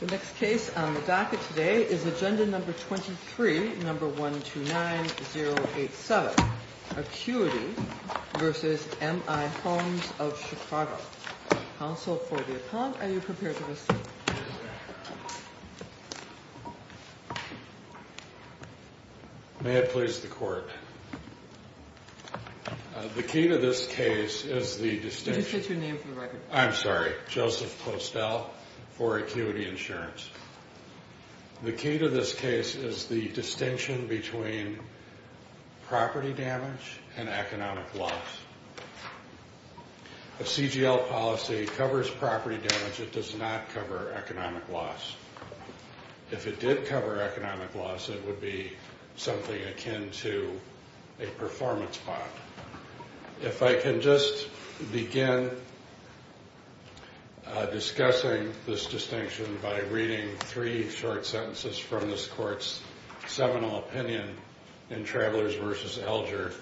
The next case on the docket today is agenda number 23, number 129087, Acuity v. M I Homes of Chicago. Counsel for the appellant, are you prepared to listen? May it please the court. The key to this case is the distinction. Did you say your name for the record? I'm sorry, Joseph Postel for Acuity Insurance. The key to this case is the distinction between property damage and economic loss. A CGL policy covers property damage, it does not cover economic loss. If it did cover economic loss, it would be something akin to a performance bond. If I can just begin discussing this distinction by reading three short sentences from this court's seminal opinion in Travelers v. Alger.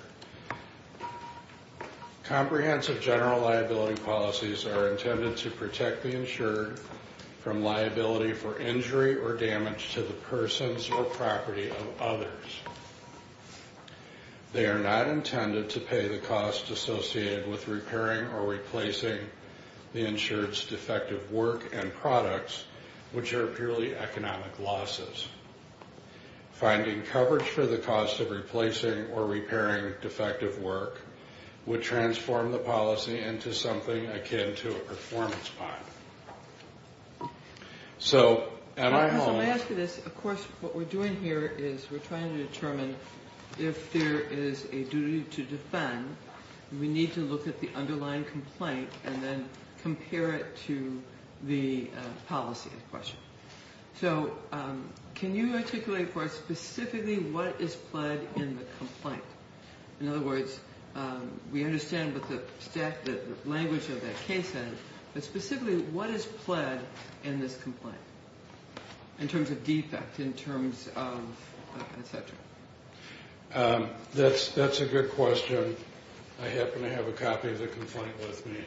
Comprehensive general liability policies are intended to protect the insured from liability for injury or damage to the persons or property of others. They are not intended to pay the cost associated with repairing or replacing the insured's defective work and products, which are purely economic losses. Finding coverage for the cost of replacing or repairing defective work would transform the policy into something akin to a performance bond. So, am I home? As I'm asking this, of course, what we're doing here is we're trying to determine if there is a duty to defend. We need to look at the underlying complaint and then compare it to the policy in question. So, can you articulate for us specifically what is pled in the complaint? In other words, we understand what the language of that case is, but specifically what is pled in this complaint in terms of defect, in terms of et cetera? That's a good question. I happen to have a copy of the complaint with me.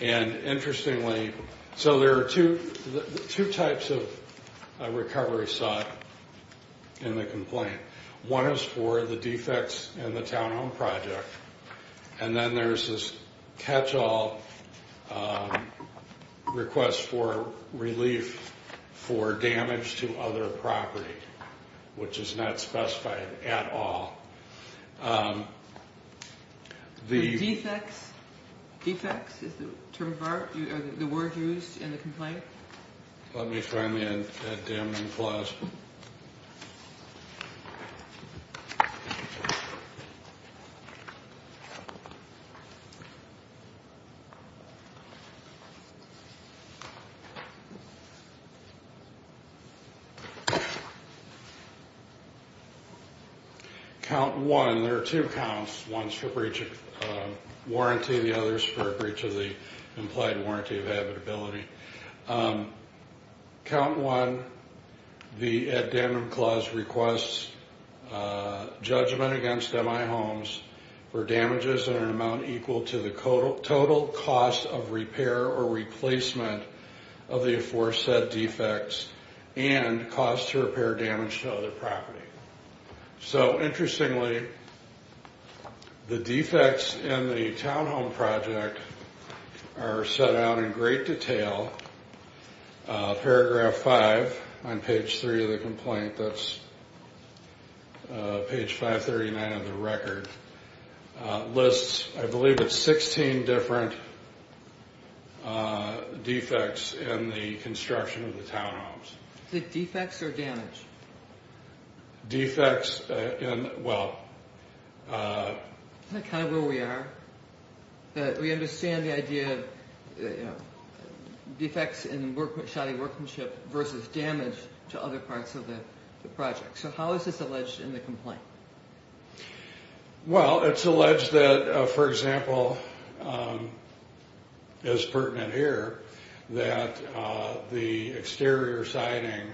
And interestingly, so there are two types of recovery sought in the complaint. One is for the defects in the townhome project, and then there's this catch-all request for relief for damage to other property, which is not specified at all. Defects? Defects is the word used in the complaint? Let me find the damning clause. Okay. Count one. There are two counts. One is for a breach of warranty. The other is for a breach of the implied warranty of habitability. Count one, the addendum clause requests judgment against MI homes for damages in an amount equal to the total cost of repair or replacement of the aforesaid defects and costs to repair damage to other property. So interestingly, the defects in the townhome project are set out in great detail. Paragraph five on page three of the complaint, that's page 539 of the record, lists I believe it's 16 different defects in the construction of the townhomes. Is it defects or damage? Defects in, well... Is that kind of where we are? We understand the idea of defects in shoddy workmanship versus damage to other parts of the project. So how is this alleged in the complaint? Well, it's alleged that, for example, as pertinent here, that the exterior siding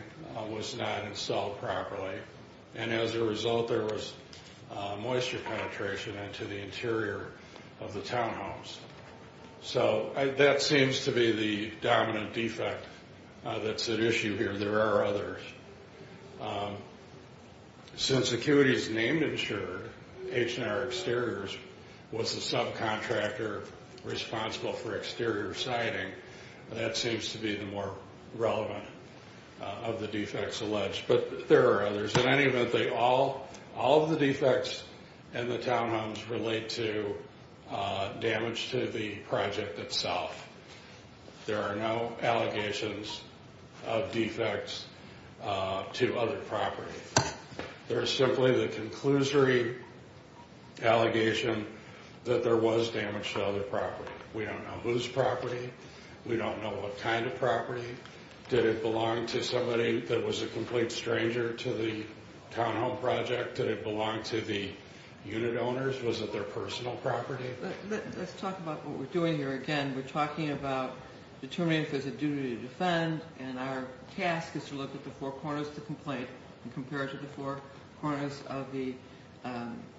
was not installed properly and as a result there was moisture penetration into the interior of the townhomes. So that seems to be the dominant defect that's at issue here. There are others. Since ACQUITY's named insurer, H&R Exteriors, was the subcontractor responsible for exterior siding, that seems to be the more relevant of the defects alleged. But there are others. In any event, all of the defects in the townhomes relate to damage to the project itself. There are no allegations of defects to other property. There is simply the conclusory allegation that there was damage to other property. We don't know whose property. We don't know what kind of property. Did it belong to somebody that was a complete stranger to the townhome project? Did it belong to the unit owners? Was it their personal property? Let's talk about what we're doing here again. We're talking about determining if there's a duty to defend and our task is to look at the four corners of the complaint and compare it to the four corners of the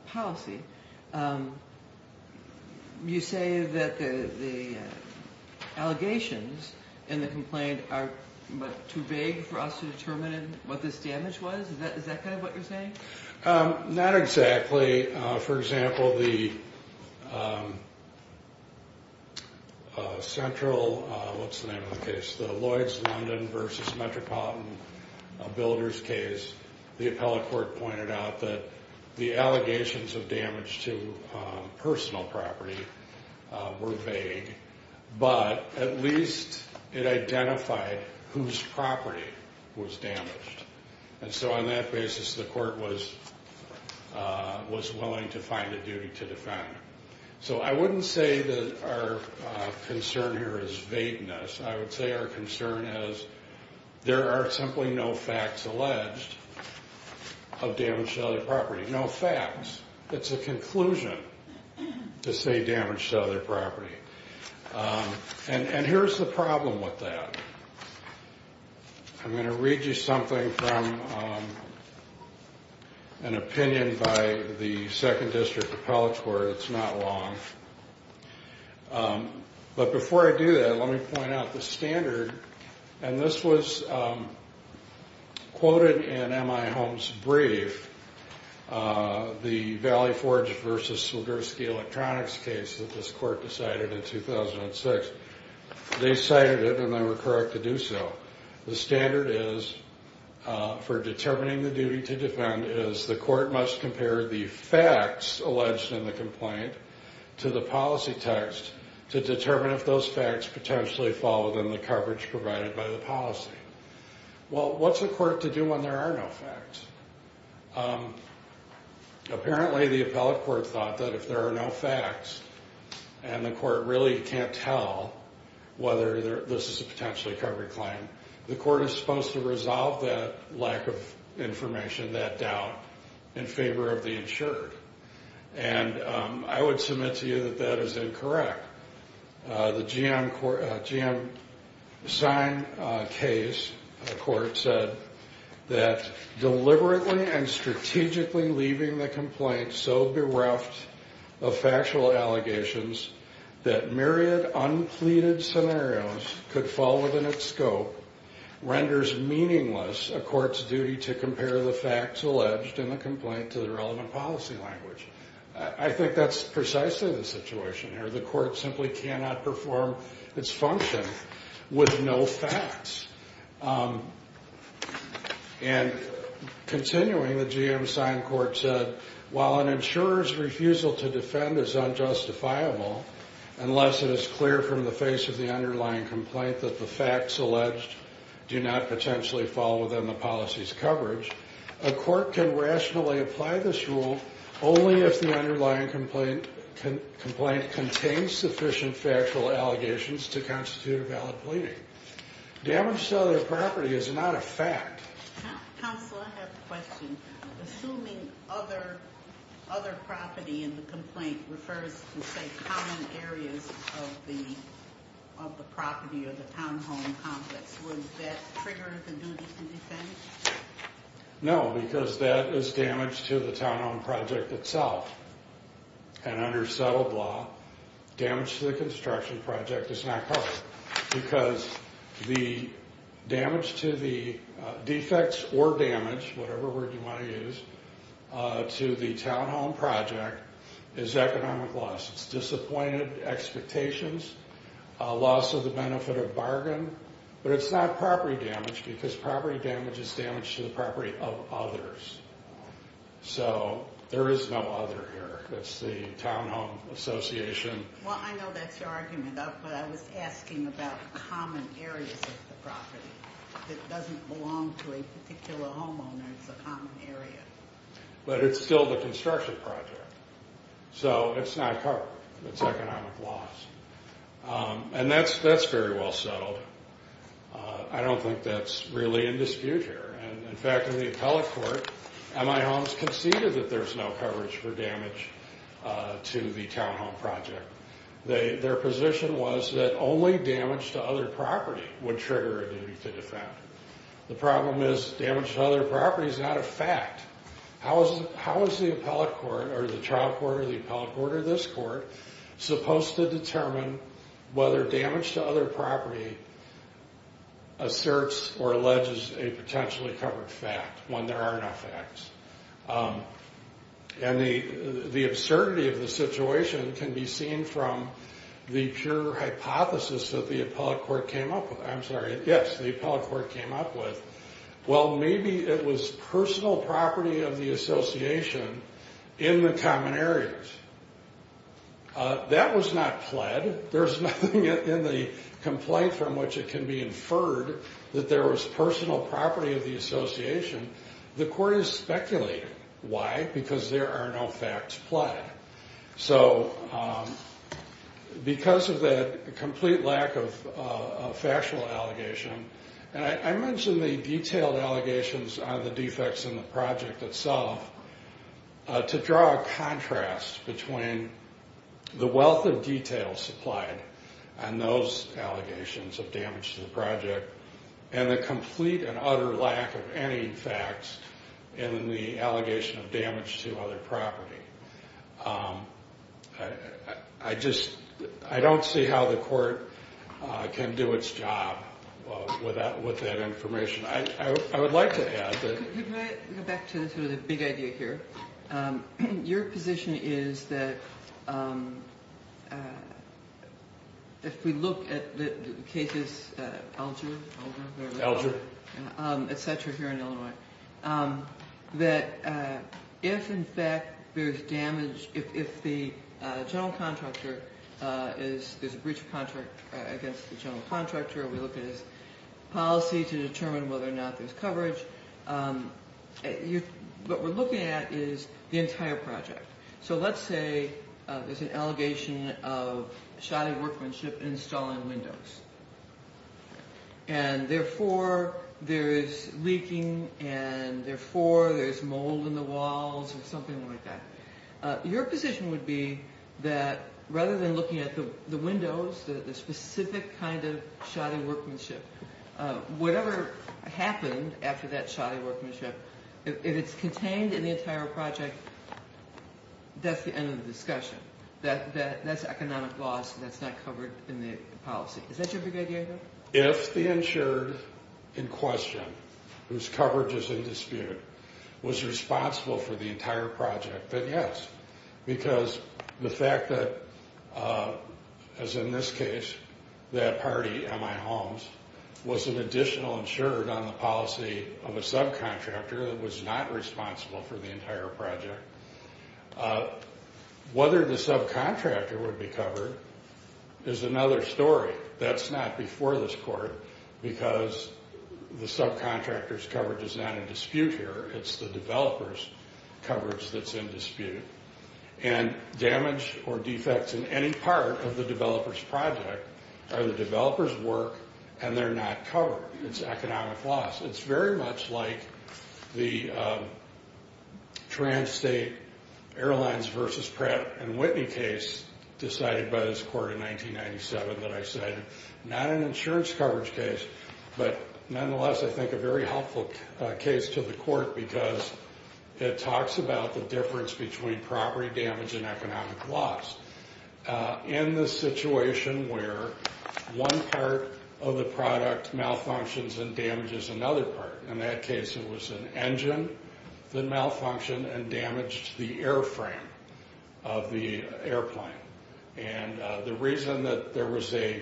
policy. You say that the allegations in the complaint are too vague for us to determine what this damage was? Is that kind of what you're saying? Not exactly. For example, the Lloyd's London v. Metropolitan Builders case, the appellate court pointed out that the allegations of damage to personal property were vague, but at least it identified whose property was damaged. And so on that basis, the court was willing to find a duty to defend. So I wouldn't say that our concern here is vagueness. I would say our concern is there are simply no facts alleged of damage to other property. No facts. It's a conclusion to say damage to other property. And here's the problem with that. I'm going to read you something from an opinion by the 2nd District Appellate Court. It's not long. But before I do that, let me point out the standard. And this was quoted in M.I. Holmes' brief, the Valley Forge v. Swiderski Electronics case that this court decided in 2006. They cited it and they were correct to do so. The standard is for determining the duty to defend is the court must compare the facts alleged in the complaint to the policy text to determine if those facts potentially fall within the coverage provided by the policy. Well, what's the court to do when there are no facts? Apparently, the appellate court thought that if there are no facts and the court really can't tell whether this is a potentially covered claim, the court is supposed to resolve that lack of information, that doubt in favor of the insured. And I would submit to you that that is incorrect. The GM sign case, the court said that deliberately and strategically leaving the complaint so bereft of factual allegations that myriad unpleaded scenarios could fall within its scope renders meaningless a court's duty to compare the facts alleged in the complaint to the relevant policy language. I think that's precisely the situation here. The court simply cannot perform its function with no facts. And continuing, the GM sign court said, while an insurer's refusal to defend is unjustifiable unless it is clear from the face of the underlying complaint that the facts alleged do not potentially fall within the policy's coverage, a court can rationally apply this rule only if the underlying complaint contains sufficient factual allegations to constitute a valid pleading. Damage to other property is not a fact. Counsel, I have a question. Assuming other property in the complaint refers to, say, common areas of the property or the townhome complex, would that trigger the duty to defend? Well, I know that's your argument, but I was asking about common areas of the property that doesn't belong to a community. But it's still the construction project. So it's not covered. It's economic loss. And that's very well settled. I don't think that's really in dispute here. In fact, in the appellate court, MI Homes conceded that there's no coverage for damage to the townhome project. Their position was that only damage to other property would trigger a duty to defend. The problem is damage to other property is not a fact. How is the appellate court or the trial court or the appellate court or this court supposed to determine whether damage to other property asserts or alleges a potentially covered fact when there are no facts? And the absurdity of the situation can be seen from the pure hypothesis that the appellate court came up with. I'm sorry. Yes, the appellate court came up with, well, maybe it was personal property of the association in the common areas. That was not pled. There's nothing in the complaint from which it can be inferred that there was personal property of the association. The court is speculating. Why? Because there are no facts pled. So because of the complete lack of factual allegation, and I mentioned the detailed allegations on the defects in the project itself, to draw a contrast between the wealth of detail supplied on those allegations of damage to the project and the complete and utter lack of any facts in the allegation of damage to other property. I just, I don't see how the court can do its job with that information. I would like to add that. Can I go back to the big idea here? Your position is that if we look at the cases, Alger, et cetera, here in Illinois, that if, in fact, there's damage, if the general contractor is, there's a breach of contract against the general contractor, we look at his policy to determine whether or not there's coverage. What we're looking at is the entire project. So let's say there's an allegation of shoddy workmanship installing windows. And therefore, there is leaking, and therefore, there's mold in the walls or something like that. Your position would be that rather than looking at the windows, the specific kind of shoddy workmanship, whatever happened after that shoddy workmanship, if it's contained in the entire project, that's the end of the discussion, that that's economic loss, that's not covered in the policy. Is that your big idea here? If the insured in question, whose coverage is in dispute, was responsible for the entire project, then yes. Because the fact that, as in this case, that party, MI Holmes, was an additional insured on the policy of a subcontractor that was not responsible for the entire project, whether the subcontractor would be covered is another story. That's not before this court, because the subcontractor's coverage is not in dispute here. It's the developer's coverage that's in dispute. And damage or defects in any part of the developer's project are the developer's work, and they're not covered. It's economic loss. It's very much like the Transstate Airlines versus Pratt & Whitney case decided by this court in 1997 that I cited. Not an insurance coverage case, but nonetheless, I think a very helpful case to the court, because it talks about the difference between property damage and economic loss. In the situation where one part of the product malfunctions and damages another part, in that case it was an engine that malfunctioned and damaged the airframe of the airplane. And the reason that there was a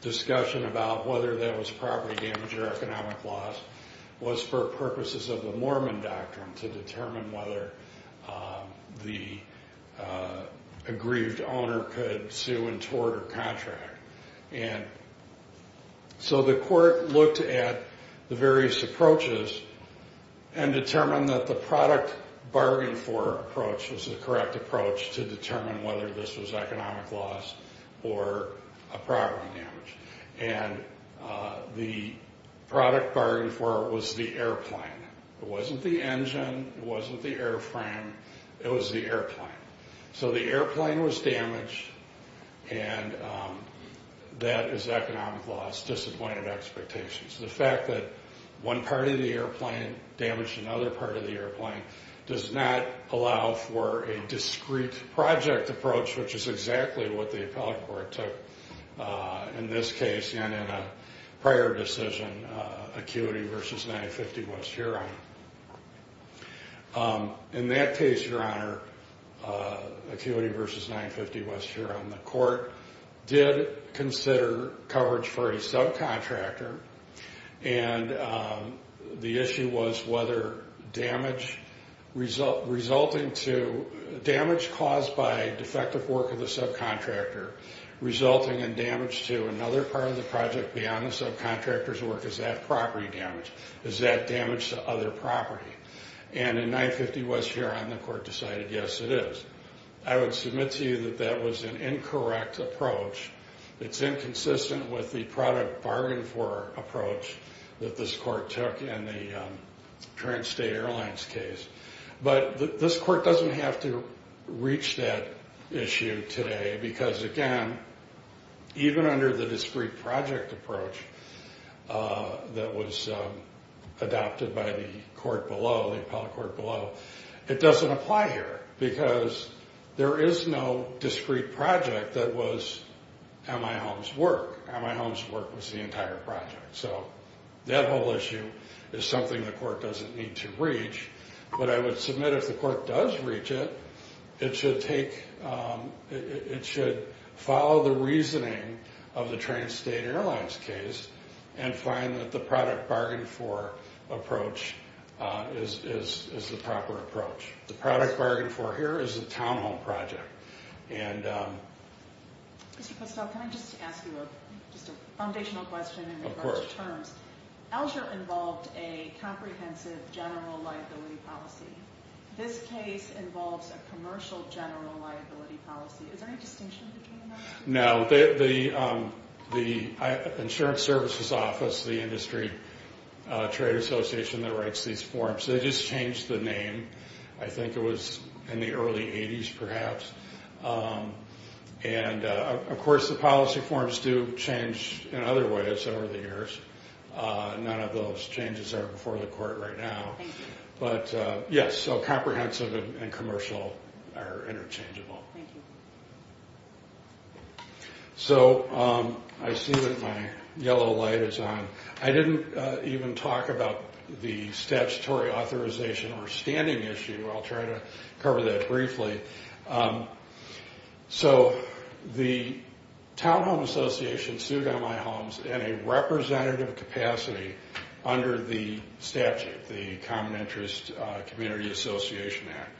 discussion about whether that was property damage or economic loss was for purposes of the Mormon doctrine to determine whether the aggrieved owner could sue and tort or contract. And so the court looked at the various approaches and determined that the product bargain for approach was the correct approach to determine whether this was economic loss or a property damage. And the product bargain for it was the airplane. It wasn't the engine. It wasn't the airframe. It was the airplane. So the airplane was damaged, and that is economic loss, disappointed expectations. The fact that one part of the airplane damaged another part of the airplane does not allow for a discrete project approach, which is exactly what the appellate court took in this case and in a prior decision, ACUITY versus 950 West Huron. In that case, Your Honor, ACUITY versus 950 West Huron, the court did consider coverage for a subcontractor, and the issue was whether damage caused by defective work of the subcontractor resulting in damage to another part of the project beyond the subcontractor's work is that property damage. Is that damage to other property? And in 950 West Huron, the court decided, yes, it is. I would submit to you that that was an incorrect approach. It's inconsistent with the product bargain for approach that this court took in the current state airlines case. But this court doesn't have to reach that issue today because, again, even under the discrete project approach that was adopted by the court below, the appellate court below, it doesn't apply here because there is no discrete project that was MI Holmes' work. MI Holmes' work was the entire project. So that whole issue is something the court doesn't need to reach. But I would submit if the court does reach it, it should follow the reasoning of the trans-state airlines case and find that the product bargain for approach is the proper approach. The product bargain for here is the townhome project. Mr. Postol, can I just ask you just a foundational question in regards to terms? Elger involved a comprehensive general liability policy. This case involves a commercial general liability policy. Is there any distinction between the two? No. The insurance services office, the industry trade association that writes these forms, they just changed the name. I think it was in the early 80s perhaps. And, of course, the policy forms do change in other ways over the years. None of those changes are before the court right now. But, yes, so comprehensive and commercial are interchangeable. So I see that my yellow light is on. I didn't even talk about the statutory authorization or standing issue. I'll try to cover that briefly. So the townhome association sued MI Holmes' in a representative capacity under the statute, the Common Interest Community Association Act.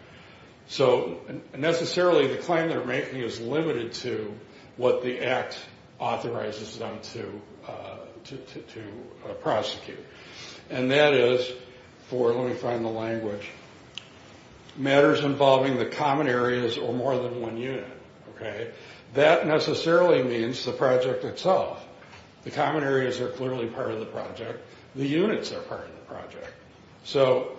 So necessarily the claim they're making is limited to what the act authorizes them to prosecute. And that is for, let me find the language, matters involving the common areas or more than one unit. That necessarily means the project itself. The common areas are clearly part of the project. The units are part of the project. So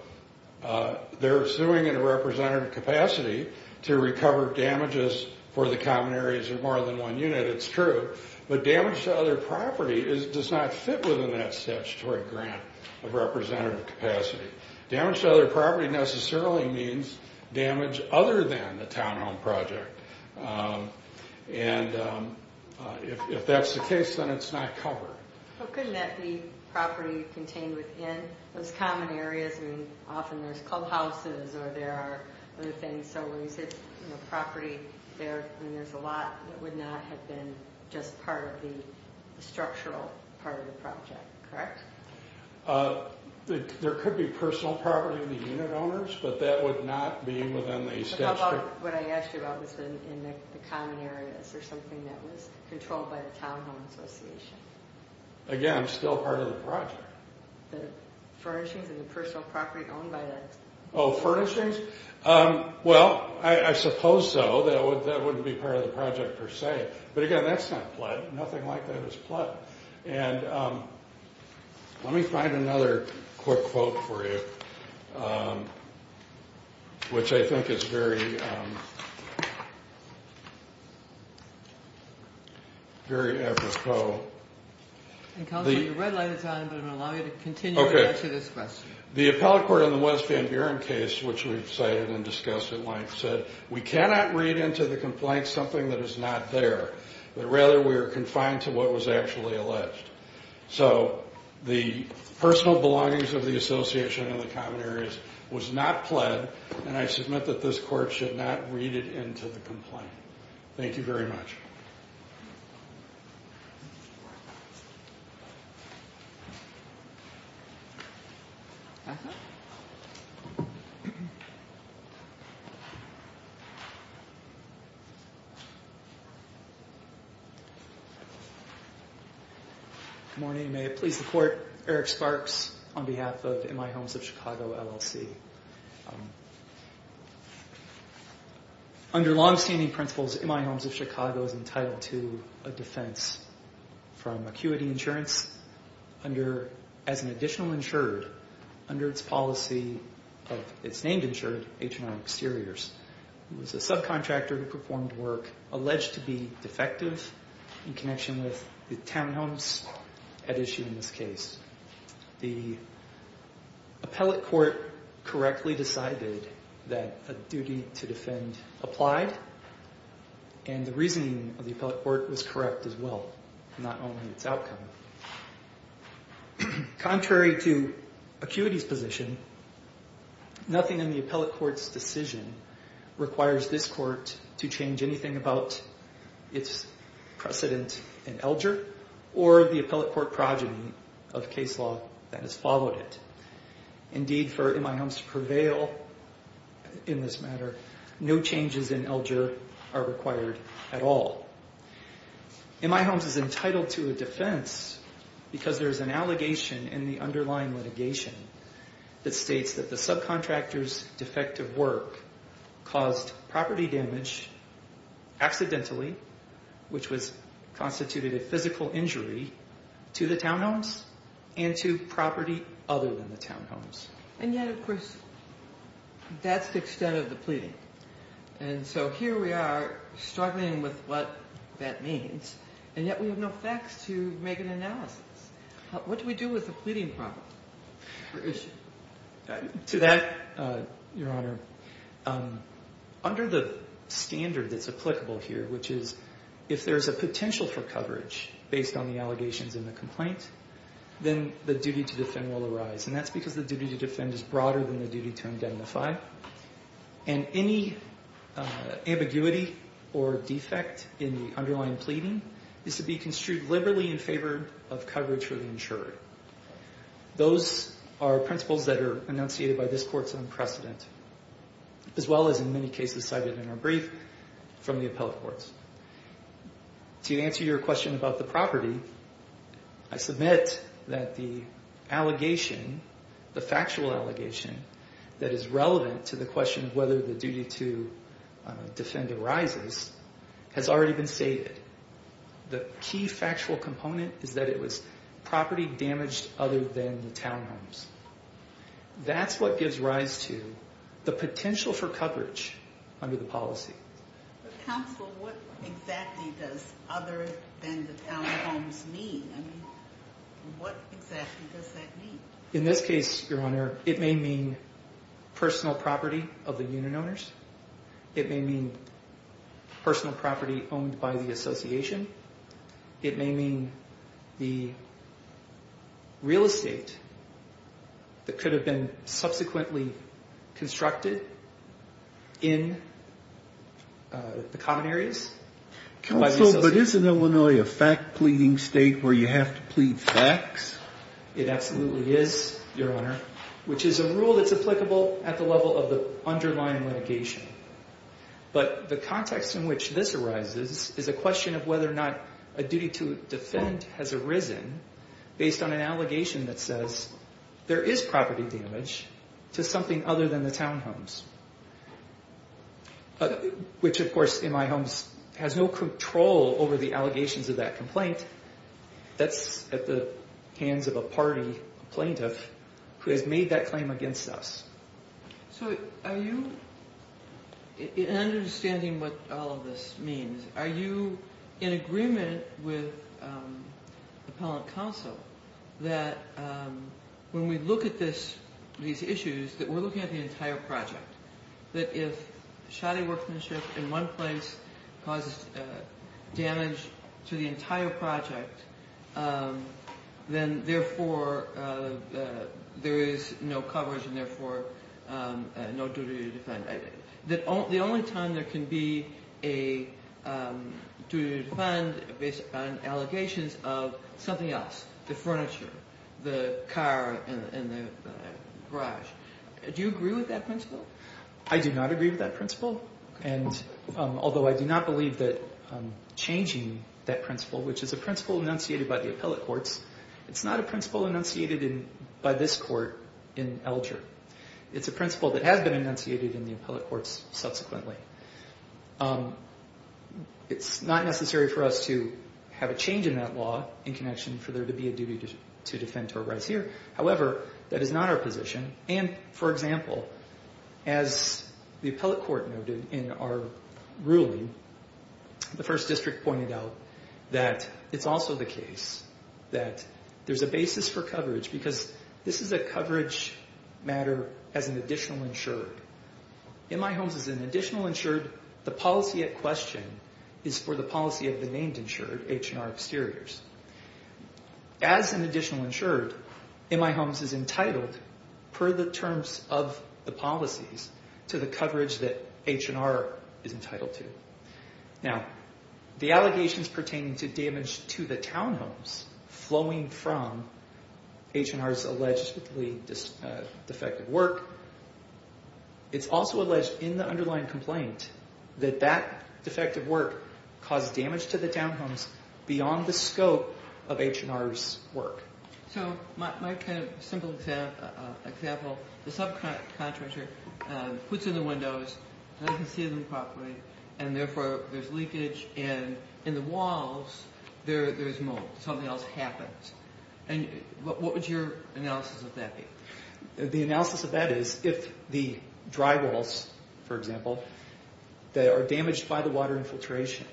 they're suing in a representative capacity to recover damages for the common areas or more than one unit. It's true. But damage to other property does not fit within that statutory grant of representative capacity. Damage to other property necessarily means damage other than the townhome project. And if that's the case, then it's not covered. Well, couldn't that be property contained within those common areas? I mean, often there's clubhouses or there are other things. So when you say property, there's a lot that would not have been just part of the structural part of the project, correct? There could be personal property of the unit owners, but that would not be within the statute. How about what I asked you about was in the common areas? Is there something that was controlled by the townhome association? Again, still part of the project. The furnishings and the personal property owned by the... Oh, furnishings? Well, I suppose so. That wouldn't be part of the project per se. But again, that's not pled. Nothing like that is pled. And let me find another quick quote for you, which I think is very, very apropos. The red light is on, but it will allow you to continue to answer this question. The appellate court in the West Van Buren case, which we've cited and discussed at length, said, We cannot read into the complaint something that is not there, but rather we are confined to what was actually alleged. So the personal belongings of the association in the common areas was not pled, and I submit that this court should not read it into the complaint. Thank you very much. Good morning. May it please the court. Eric Sparks on behalf of In My Homes of Chicago, LLC. Under longstanding principles, In My Homes of Chicago is entitled to a defense from Acuity Insurance as an additional insured under its policy of its named insured, H&R Exteriors. It was a subcontractor who performed work alleged to be defective in connection with the townhomes at issue in this case. The appellate court correctly decided that a duty to defend applied, and the reasoning of the appellate court was correct as well, not only its outcome. Contrary to Acuity's position, nothing in the appellate court's decision requires this court to change anything about its precedent in Elger or the appellate court progeny of case law that has followed it. Indeed, for In My Homes to prevail in this matter, no changes in Elger are required at all. In My Homes is entitled to a defense because there is an allegation in the underlying litigation that states that the subcontractor's defective work caused property damage accidentally, which was constituted a physical injury to the townhomes and to property other than the townhomes. And yet, of course, that's the extent of the pleading. And so here we are struggling with what that means, and yet we have no facts to make an analysis. What do we do with the pleading problem? To that, Your Honor, under the standard that's applicable here, which is if there's a potential for coverage based on the allegations in the complaint, then the duty to defend will arise. And that's because the duty to defend is broader than the duty to indemnify. And any ambiguity or defect in the underlying pleading is to be construed liberally in favor of coverage for the insurer. Those are principles that are enunciated by this court's own precedent, as well as in many cases cited in our brief from the appellate courts. To answer your question about the property, I submit that the allegation, the factual allegation, that is relevant to the question of whether the duty to defend arises has already been stated. The key factual component is that it was property damaged other than the townhomes. That's what gives rise to the potential for coverage under the policy. Counsel, what exactly does other than the townhomes mean? I mean, what exactly does that mean? In this case, Your Honor, it may mean personal property of the unit owners. It may mean personal property owned by the association. It may mean the real estate that could have been subsequently constructed in the common areas. Counsel, but isn't Illinois a fact pleading state where you have to plead facts? It absolutely is, Your Honor, which is a rule that's applicable at the level of the underlying litigation. But the context in which this arises is a question of whether or not a duty to defend has arisen based on an allegation that says there is property damage to something other than the townhomes, which, of course, in my homes has no control over the allegations of that complaint. That's at the hands of a party plaintiff who has made that claim against us. So are you, in understanding what all of this means, are you in agreement with the appellant counsel that when we look at these issues, that we're looking at the entire project, that if shoddy workmanship in one place causes damage to the entire project, then, therefore, there is no coverage and, therefore, no duty to defend. The only time there can be a duty to defend based on allegations of something else, the furniture, the car, and the garage, do you agree with that principle? I do not agree with that principle, although I do not believe that changing that principle, which is a principle enunciated by the appellate courts, it's not a principle enunciated by this court in Alger. It's a principle that has been enunciated in the appellate courts subsequently. It's not necessary for us to have a change in that law in connection for there to be a duty to defend to arise here. However, that is not our position. And, for example, as the appellate court noted in our ruling, the first district pointed out that it's also the case that there's a basis for coverage because this is a coverage matter as an additional insured. In my homes, as an additional insured, the policy at question is for the policy of the named insured, H&R exteriors. As an additional insured, MI Homes is entitled per the terms of the policies to the coverage that H&R is entitled to. Now, the allegations pertaining to damage to the townhomes flowing from H&R's allegedly defective work, it's also alleged in the underlying complaint that that defective work caused damage to the townhomes beyond the scope of H&R's work. So my kind of simple example, the subcontractor puts in the windows, doesn't see them properly, and therefore there's leakage, and in the walls there's mold. Something else happens. And what would your analysis of that be? The analysis of that is if the drywalls, for example, that are damaged by the water infiltration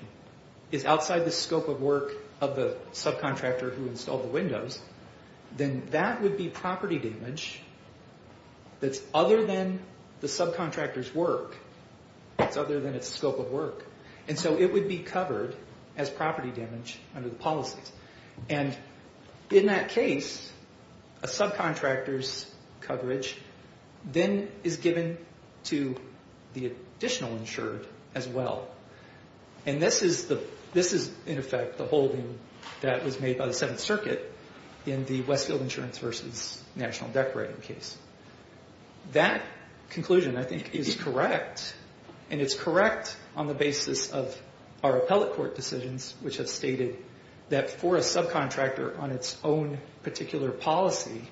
is outside the scope of work of the subcontractor who installed the windows, then that would be property damage that's other than the subcontractor's work. It's other than its scope of work. And so it would be covered as property damage under the policies. And in that case, a subcontractor's coverage then is given to the additional insured as well. And this is, in effect, the holding that was made by the Seventh Circuit in the Westfield Insurance v. National Decorating case. That conclusion, I think, is correct, and it's correct on the basis of our appellate court decisions which have stated that for a subcontractor on its own particular policy,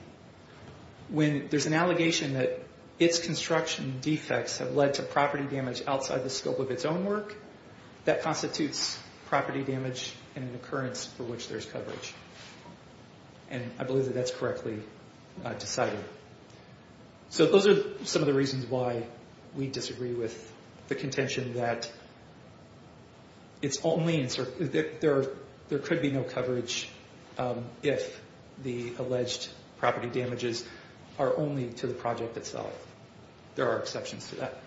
when there's an allegation that its construction defects have led to property damage outside the scope of its own work, that constitutes property damage and an occurrence for which there's coverage. And I believe that that's correctly decided. So those are some of the reasons why we disagree with the contention that there could be no coverage if the alleged property damages are only to the project itself. There are exceptions to that.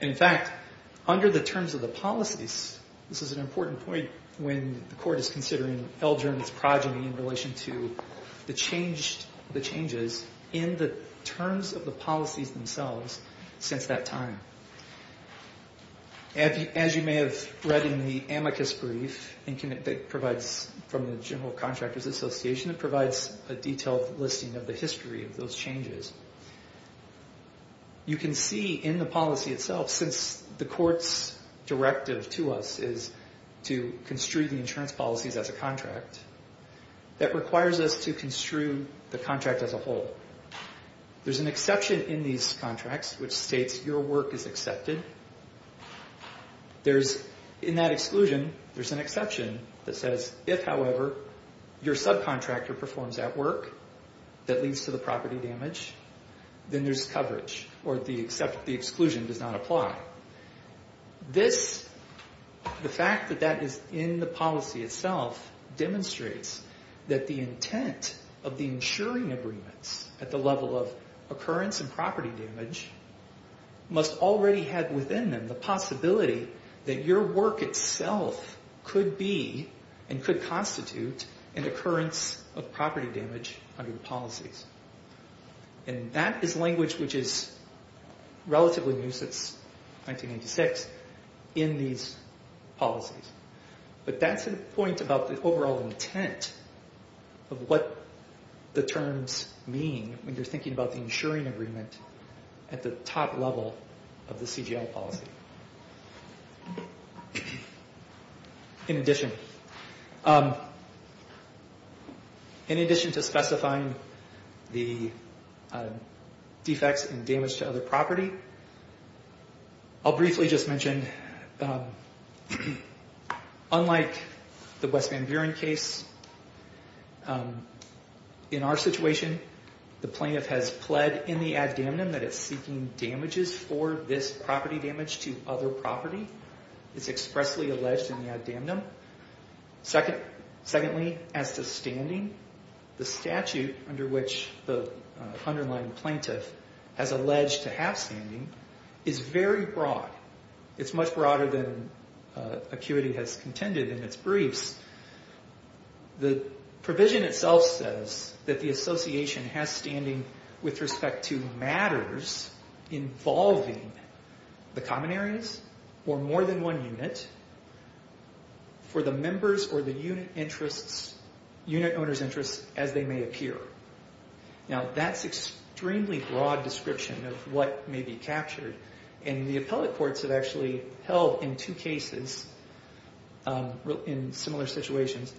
In fact, under the terms of the policies, this is an important point when the court is considering Eldren's progeny in relation to the changes in the terms of the policies themselves since that time. As you may have read in the amicus brief that provides from the General Contractors Association, it provides a detailed listing of the history of those changes. You can see in the policy itself, since the court's directive to us is to construe the insurance policies as a contract, that requires us to construe the contract as a whole. There's an exception in these contracts which states your work is accepted. In that exclusion, there's an exception that says, if, however, your subcontractor performs that work that leads to the property damage, then there's coverage, or the exclusion does not apply. The fact that that is in the policy itself demonstrates that the intent of the insuring agreements at the level of occurrence and property damage must already have within them the possibility that your work itself could be and could constitute an occurrence of property damage under the policies. And that is language which is relatively new since 1996 in these policies. But that's a point about the overall intent of what the terms mean when you're thinking about the insuring agreement at the top level of the CGL policy. In addition, in addition to specifying the defects and damage to other property, I'll briefly just mention, unlike the West Van Buren case, in our situation, the plaintiff has pled in the ad damnum that it's seeking damages for this property damage to other property. It's expressly alleged in the ad damnum. Secondly, as to standing, the statute under which the underlying plaintiff has alleged to have standing is very broad. It's much broader than ACQUITY has contended in its briefs. The provision itself says that the association has standing with respect to matters involving the common areas or more than one unit for the members or the unit owner's interests as they may appear. Now, that's extremely broad description of what may be captured. The appellate courts have actually held in two cases in similar situations.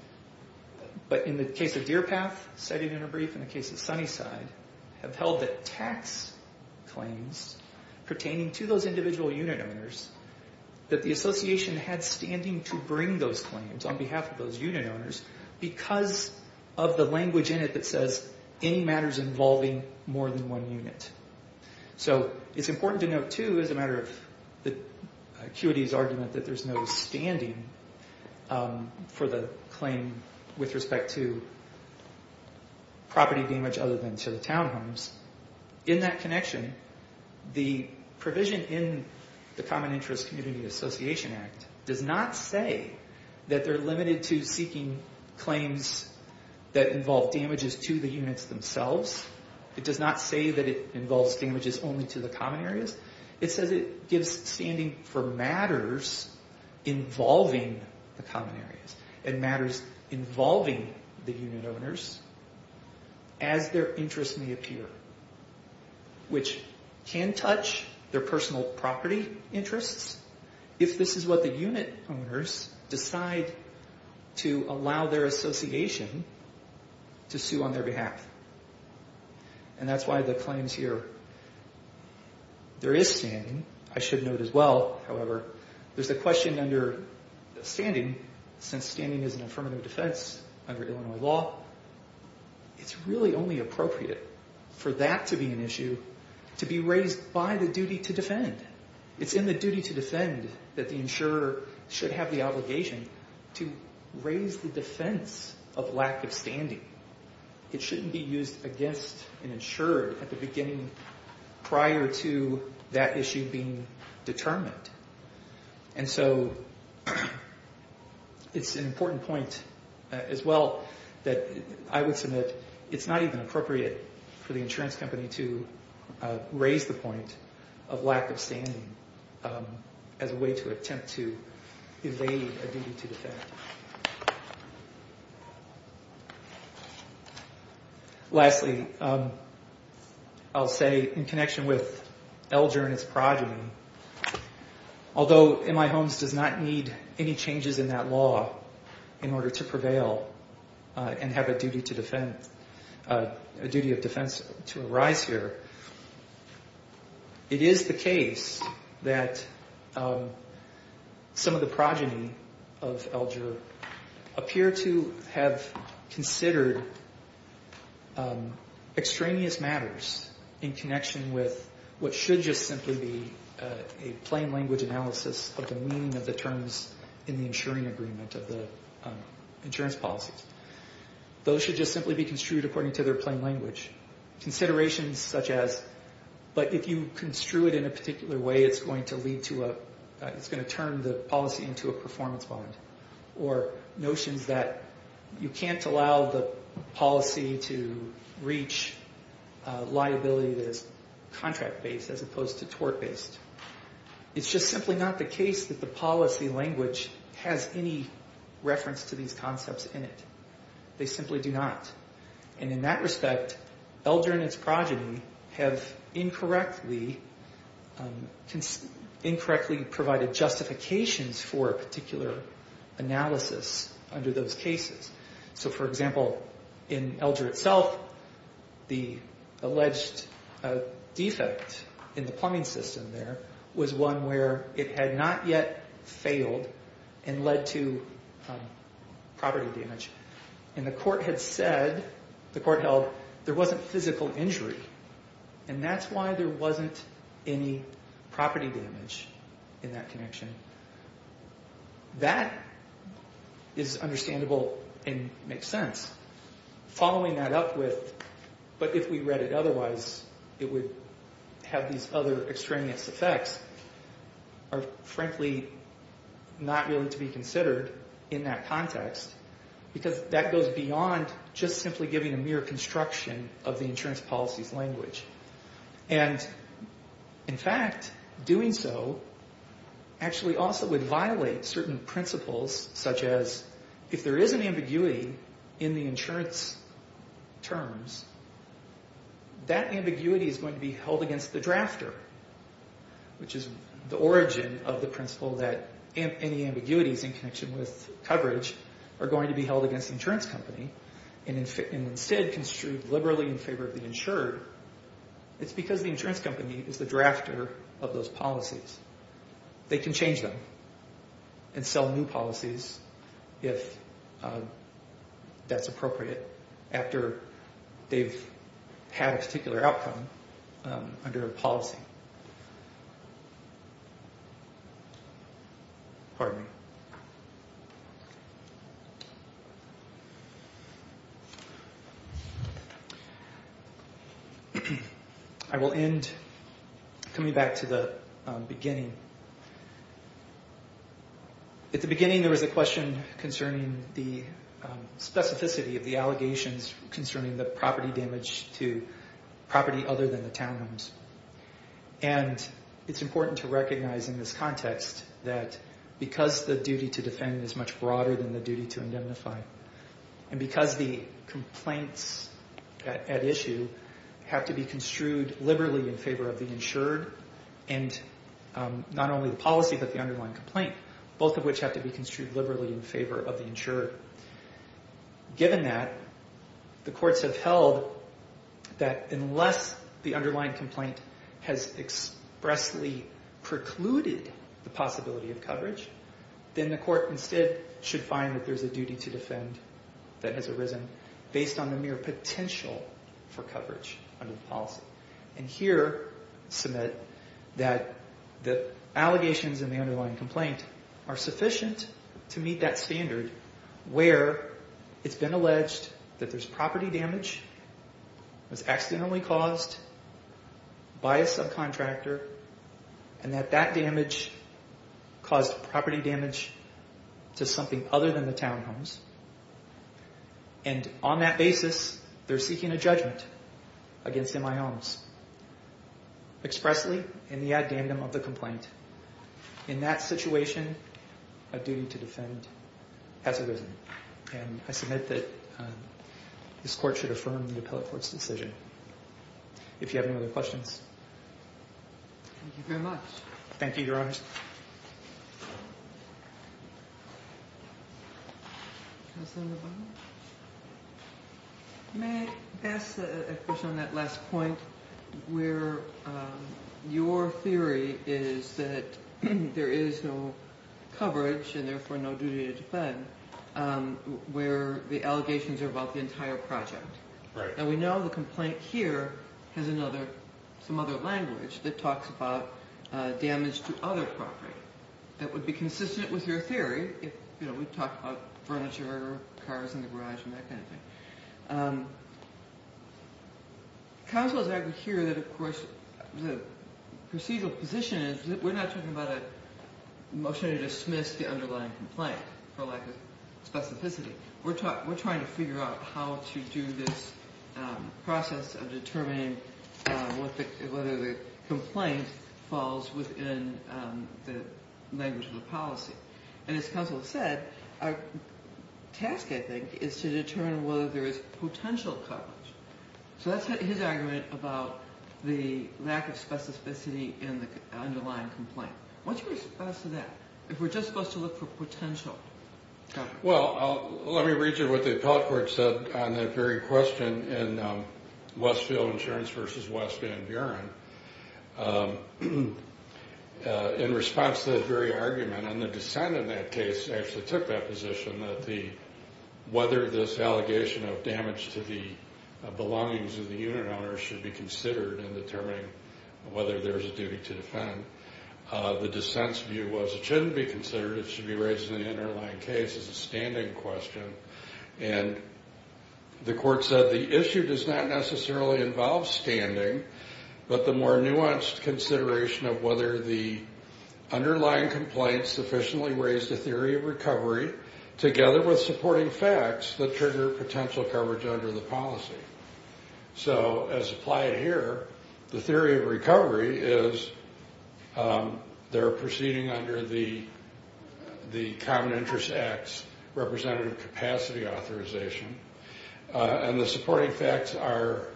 But in the case of Deer Path, cited in our brief, and the case of Sunnyside, have held that tax claims pertaining to those individual unit owners, that the association had standing to bring those claims on behalf of those unit owners because of the language in it that says any matters involving more than one unit. So it's important to note, too, as a matter of ACQUITY's argument, that there's no standing for the claim with respect to property damage other than to the townhomes. In that connection, the provision in the Common Interest Community Association Act does not say that they're limited to seeking claims that involve damages to the units themselves. It does not say that it involves damages only to the common areas. It says it gives standing for matters involving the common areas and matters involving the unit owners as their interests may appear, which can touch their personal property interests if this is what the unit owners decide to allow their association to sue on their behalf. And that's why the claims here, there is standing. I should note as well, however, there's a question under standing since standing is an affirmative defense under Illinois law. It's really only appropriate for that to be an issue to be raised by the duty to defend. It's in the duty to defend that the insurer should have the obligation to raise the defense of lack of standing. It shouldn't be used against an insurer at the beginning prior to that issue being determined. And so it's an important point as well that I would submit it's not even appropriate for the insurance company to raise the point of lack of standing as a way to attempt to evade a duty to defend. Lastly, I'll say in connection with Elger and its progeny, although MI Homes does not need any changes in that law in order to prevail and have a duty of defense to arise here, it is the case that some of the progeny of Elger appear to have considered extraneous matters in connection with what should just simply be a plain language analysis of the meaning of the terms in the insuring agreement of the insurance policies. Those should just simply be construed according to their plain language. Considerations such as, but if you construe it in a particular way, it's going to turn the policy into a performance bond. Or notions that you can't allow the policy to reach liability that is contract-based as opposed to tort-based. It's just simply not the case that the policy language has any reference to these concepts in it. They simply do not. In that respect, Elger and its progeny have incorrectly provided justifications for a particular analysis under those cases. For example, in Elger itself, the alleged defect in the plumbing system there was one where it had not yet failed and led to property damage. And the court had said, the court held, there wasn't physical injury. And that's why there wasn't any property damage in that connection. That is understandable and makes sense. Following that up with, but if we read it otherwise, it would have these other extraneous effects are frankly not really to be considered in that context because that goes beyond just simply giving a mere construction of the insurance policy's language. And in fact, doing so actually also would violate certain principles such as if there is an ambiguity in the insurance terms, that ambiguity is going to be held against the drafter, which is the origin of the principle that any ambiguities in connection with coverage are going to be held against the insurance company and instead construed liberally in favor of the insured. It's because the insurance company is the drafter of those policies. They can change them and sell new policies if that's appropriate after they've had a particular outcome under a policy. I will end coming back to the beginning. At the beginning there was a question concerning the specificity of the allegations concerning the property damage to property other than the townhomes. And it's important to recognize in this context that because the duty to defend is much broader than the duty to indemnify, and because the complaints at issue have to be construed liberally in favor of the insured and not only the policy but the underlying complaint, both of which have to be construed liberally in favor of the insured. Given that, the courts have held that unless the underlying complaint has expressly precluded the possibility of coverage, then the court instead should find that there's a duty to defend that has arisen based on the mere potential for coverage under the policy. And here submit that the allegations in the underlying complaint are sufficient to meet that standard where it's been alleged that there's property damage that was accidentally caused by a subcontractor and that that damage caused property damage to something other than the townhomes. And on that basis, they're seeking a judgment against MI Holmes expressly in the addendum of the complaint. In that situation, a duty to defend has arisen. And I submit that this court should affirm the appellate court's decision. If you have any other questions. Thank you very much. Thank you, Your Honors. Counselor Bonner. May I ask a question on that last point where your theory is that there is no coverage and therefore no duty to defend where the allegations are about the entire project. Right. And we know the complaint here has some other language that talks about damage to other property that would be consistent with your theory. You know, we've talked about furniture, cars in the garage and that kind of thing. Counsel, as I could hear that, of course, the procedural position is that we're not talking about a motion to dismiss the underlying complaint for lack of specificity. We're trying to figure out how to do this process of determining whether the complaint falls within the language of the policy. And as counsel said, our task, I think, is to determine whether there is potential coverage. So that's his argument about the lack of specificity in the underlying complaint. What's your response to that? If we're just supposed to look for potential coverage. Well, let me read you what the appellate court said on that very question in Westfield Insurance v. West Van Buren. In response to that very argument, and the dissent in that case actually took that position that whether this allegation of damage to the belongings of the unit owner should be considered in determining whether there's a duty to defend. The dissent's view was it shouldn't be considered. It should be raised in the underlying case as a standing question. And the court said the issue does not necessarily involve standing, but the more nuanced consideration of whether the underlying complaint sufficiently raised a theory of recovery together with supporting facts that trigger potential coverage under the policy. So as applied here, the theory of recovery is they're proceeding under the Common Interest Act's representative capacity authorization. And the supporting facts are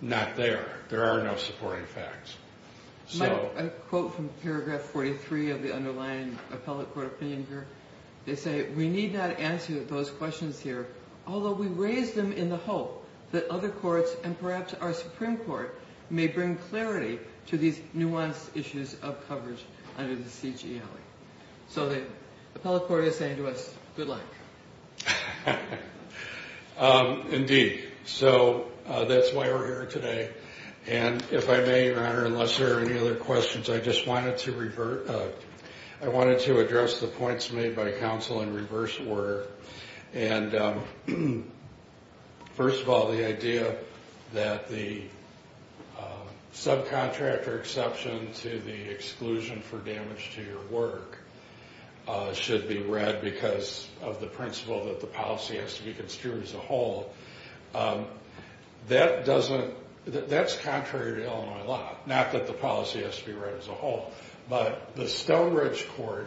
not there. There are no supporting facts. Mike, a quote from paragraph 43 of the underlying appellate court opinion here. They say, we need not answer those questions here, although we raise them in the hope that other courts and perhaps our Supreme Court may bring clarity to these nuanced issues of coverage under the CGLA. So the appellate court is saying to us, good luck. Indeed. So that's why we're here today. And if I may, Your Honor, unless there are any other questions, I just wanted to revert. I wanted to address the points made by counsel in reverse order. And first of all, the idea that the subcontractor exception to the exclusion for damage to your work should be read because of the principle that the policy has to be construed as a whole. That's contrary to Illinois law, not that the policy has to be read as a whole. But the Stonebridge Court,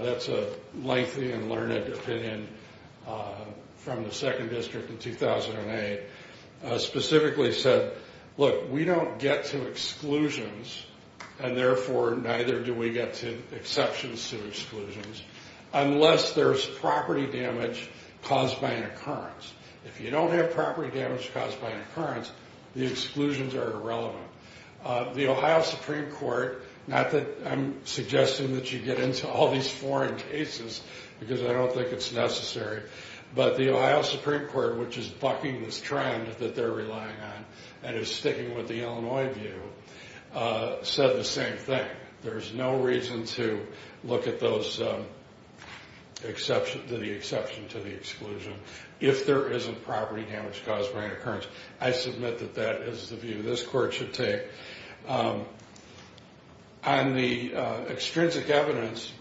that's a lengthy and learned opinion from the 2nd District in 2008, specifically said, look, we don't get to exclusions and therefore neither do we get to exceptions to exclusions unless there's property damage caused by an occurrence. If you don't have property damage caused by an occurrence, the exclusions are irrelevant. The Ohio Supreme Court, not that I'm suggesting that you get into all these foreign cases because I don't think it's necessary, but the Ohio Supreme Court, which is bucking this trend that they're relying on and is sticking with the Illinois view, said the same thing. There's no reason to look at the exception to the exclusion if there isn't property damage caused by an occurrence. I submit that that is the view. This court should take on the extrinsic evidence.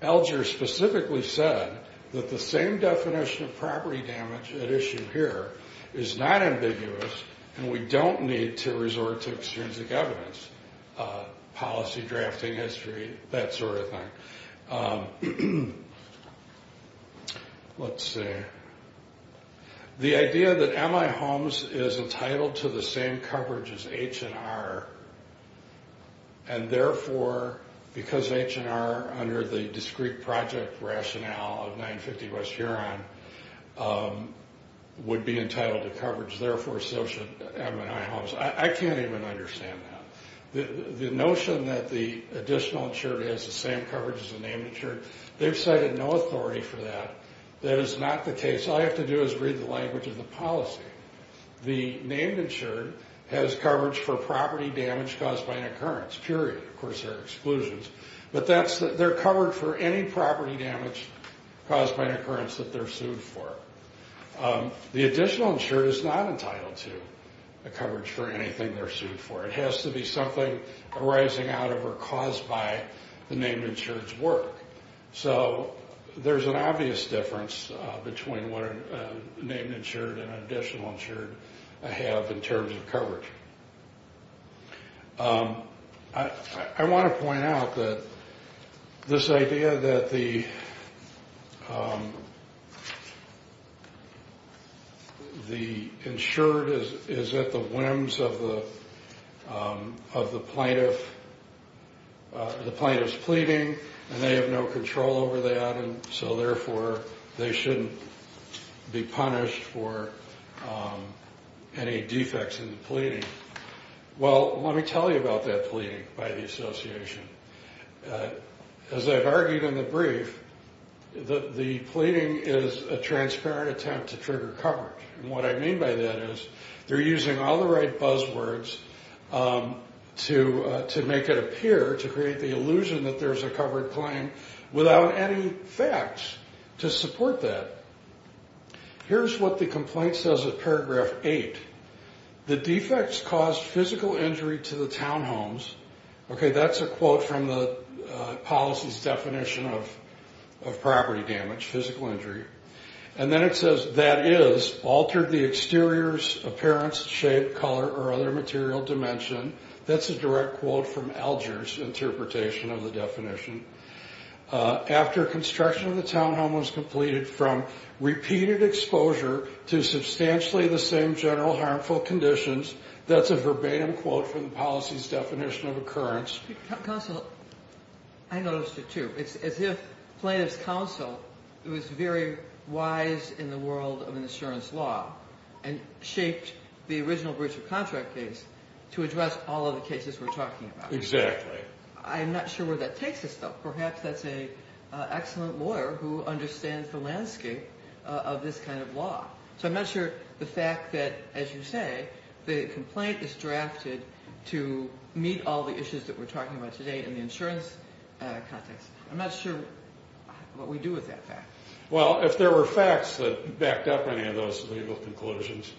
Elger specifically said that the same definition of property damage at issue here is not ambiguous and we don't need to resort to extrinsic evidence, policy drafting history, that sort of thing. Let's see. The idea that M&I Homes is entitled to the same coverage as H&R and therefore because H&R, under the discrete project rationale of 950 West Huron, would be entitled to coverage, therefore so should M&I Homes. I can't even understand that. The notion that the additional insured has the same coverage as the named insured, they've cited no authority for that. That is not the case. All you have to do is read the language of the policy. The named insured has coverage for property damage caused by an occurrence, period. Of course, there are exclusions. But they're covered for any property damage caused by an occurrence that they're sued for. The additional insured is not entitled to coverage for anything they're sued for. It has to be something arising out of or caused by the named insured's work. So there's an obvious difference between what a named insured and an additional insured have in terms of coverage. I want to point out that this idea that the insured is at the whims of the plaintiff, the plaintiff's pleading and they have no control over that and so therefore they shouldn't be punished for any defects in the pleading. Well, let me tell you about that pleading by the association. As I've argued in the brief, the pleading is a transparent attempt to trigger coverage. And what I mean by that is they're using all the right buzzwords to make it appear, to create the illusion that there's a covered claim without any facts to support that. Here's what the complaint says at paragraph 8. The defects caused physical injury to the townhomes. Okay, that's a quote from the policy's definition of property damage, physical injury. And then it says that is altered the exterior's appearance, shape, color or other material dimension. That's a direct quote from Alger's interpretation of the definition. After construction of the townhome was completed from repeated exposure to substantially the same general harmful conditions. That's a verbatim quote from the policy's definition of occurrence. Counsel, I noticed it too. It's as if plaintiff's counsel was very wise in the world of insurance law and shaped the original breach of contract case to address all of the cases we're talking about. Exactly. I'm not sure where that takes us though. Perhaps that's an excellent lawyer who understands the landscape of this kind of law. So I'm not sure the fact that, as you say, the complaint is drafted to meet all the issues that we're talking about today in the insurance context. I'm not sure what we do with that fact. Well, if there were facts that backed up any of those legal conclusions,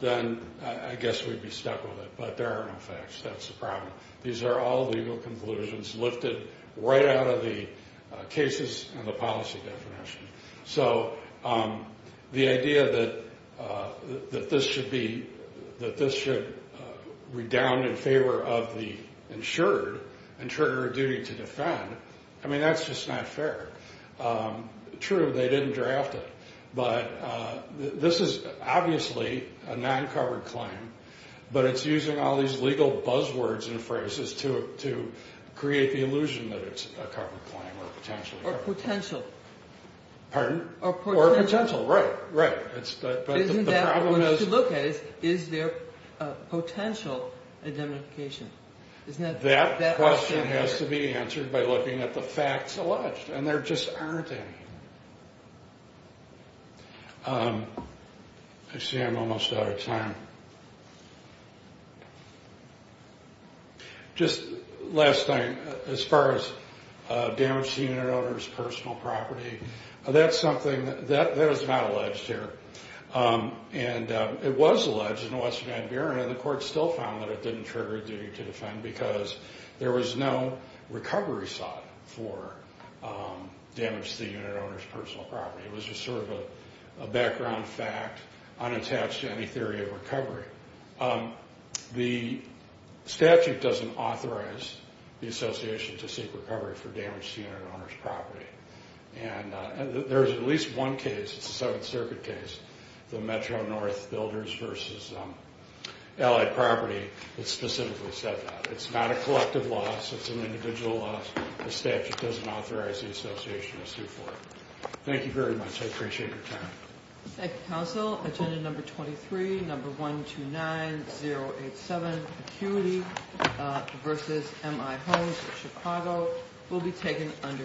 then I guess we'd be stuck with it. But there are no facts. That's the problem. These are all legal conclusions lifted right out of the cases and the policy definition. So the idea that this should redound in favor of the insured and trigger a duty to defend, I mean, that's just not fair. True, they didn't draft it, but this is obviously a non-covered claim, but it's using all these legal buzzwords and phrases to create the illusion that it's a covered claim or a potential. Or a potential. Pardon? Or a potential. Or a potential, right, right. But the problem is to look at it, is there a potential indemnification? That question has to be answered by looking at the facts alleged, and there just aren't any. I see I'm almost out of time. Just last night, as far as damage to the unit owner's personal property, that's something that is not alleged here. And it was alleged in Western Niberia, and the court still found that it didn't trigger a duty to defend because there was no recovery sought for damage to the unit owner's personal property. It was just sort of a background fact unattached to any theory of recovery. The statute doesn't authorize the association to seek recovery for damage to unit owner's property. And there's at least one case, it's a Seventh Circuit case, the Metro-North Builders v. Allied Property, that specifically said that. It's not a collective loss, it's an individual loss. The statute doesn't authorize the association to sue for it. Thank you very much. I appreciate your time. Thank you, counsel. Agenda number 23, number 129087, Acuity v. MI Homes in Chicago, will be taken under advisory.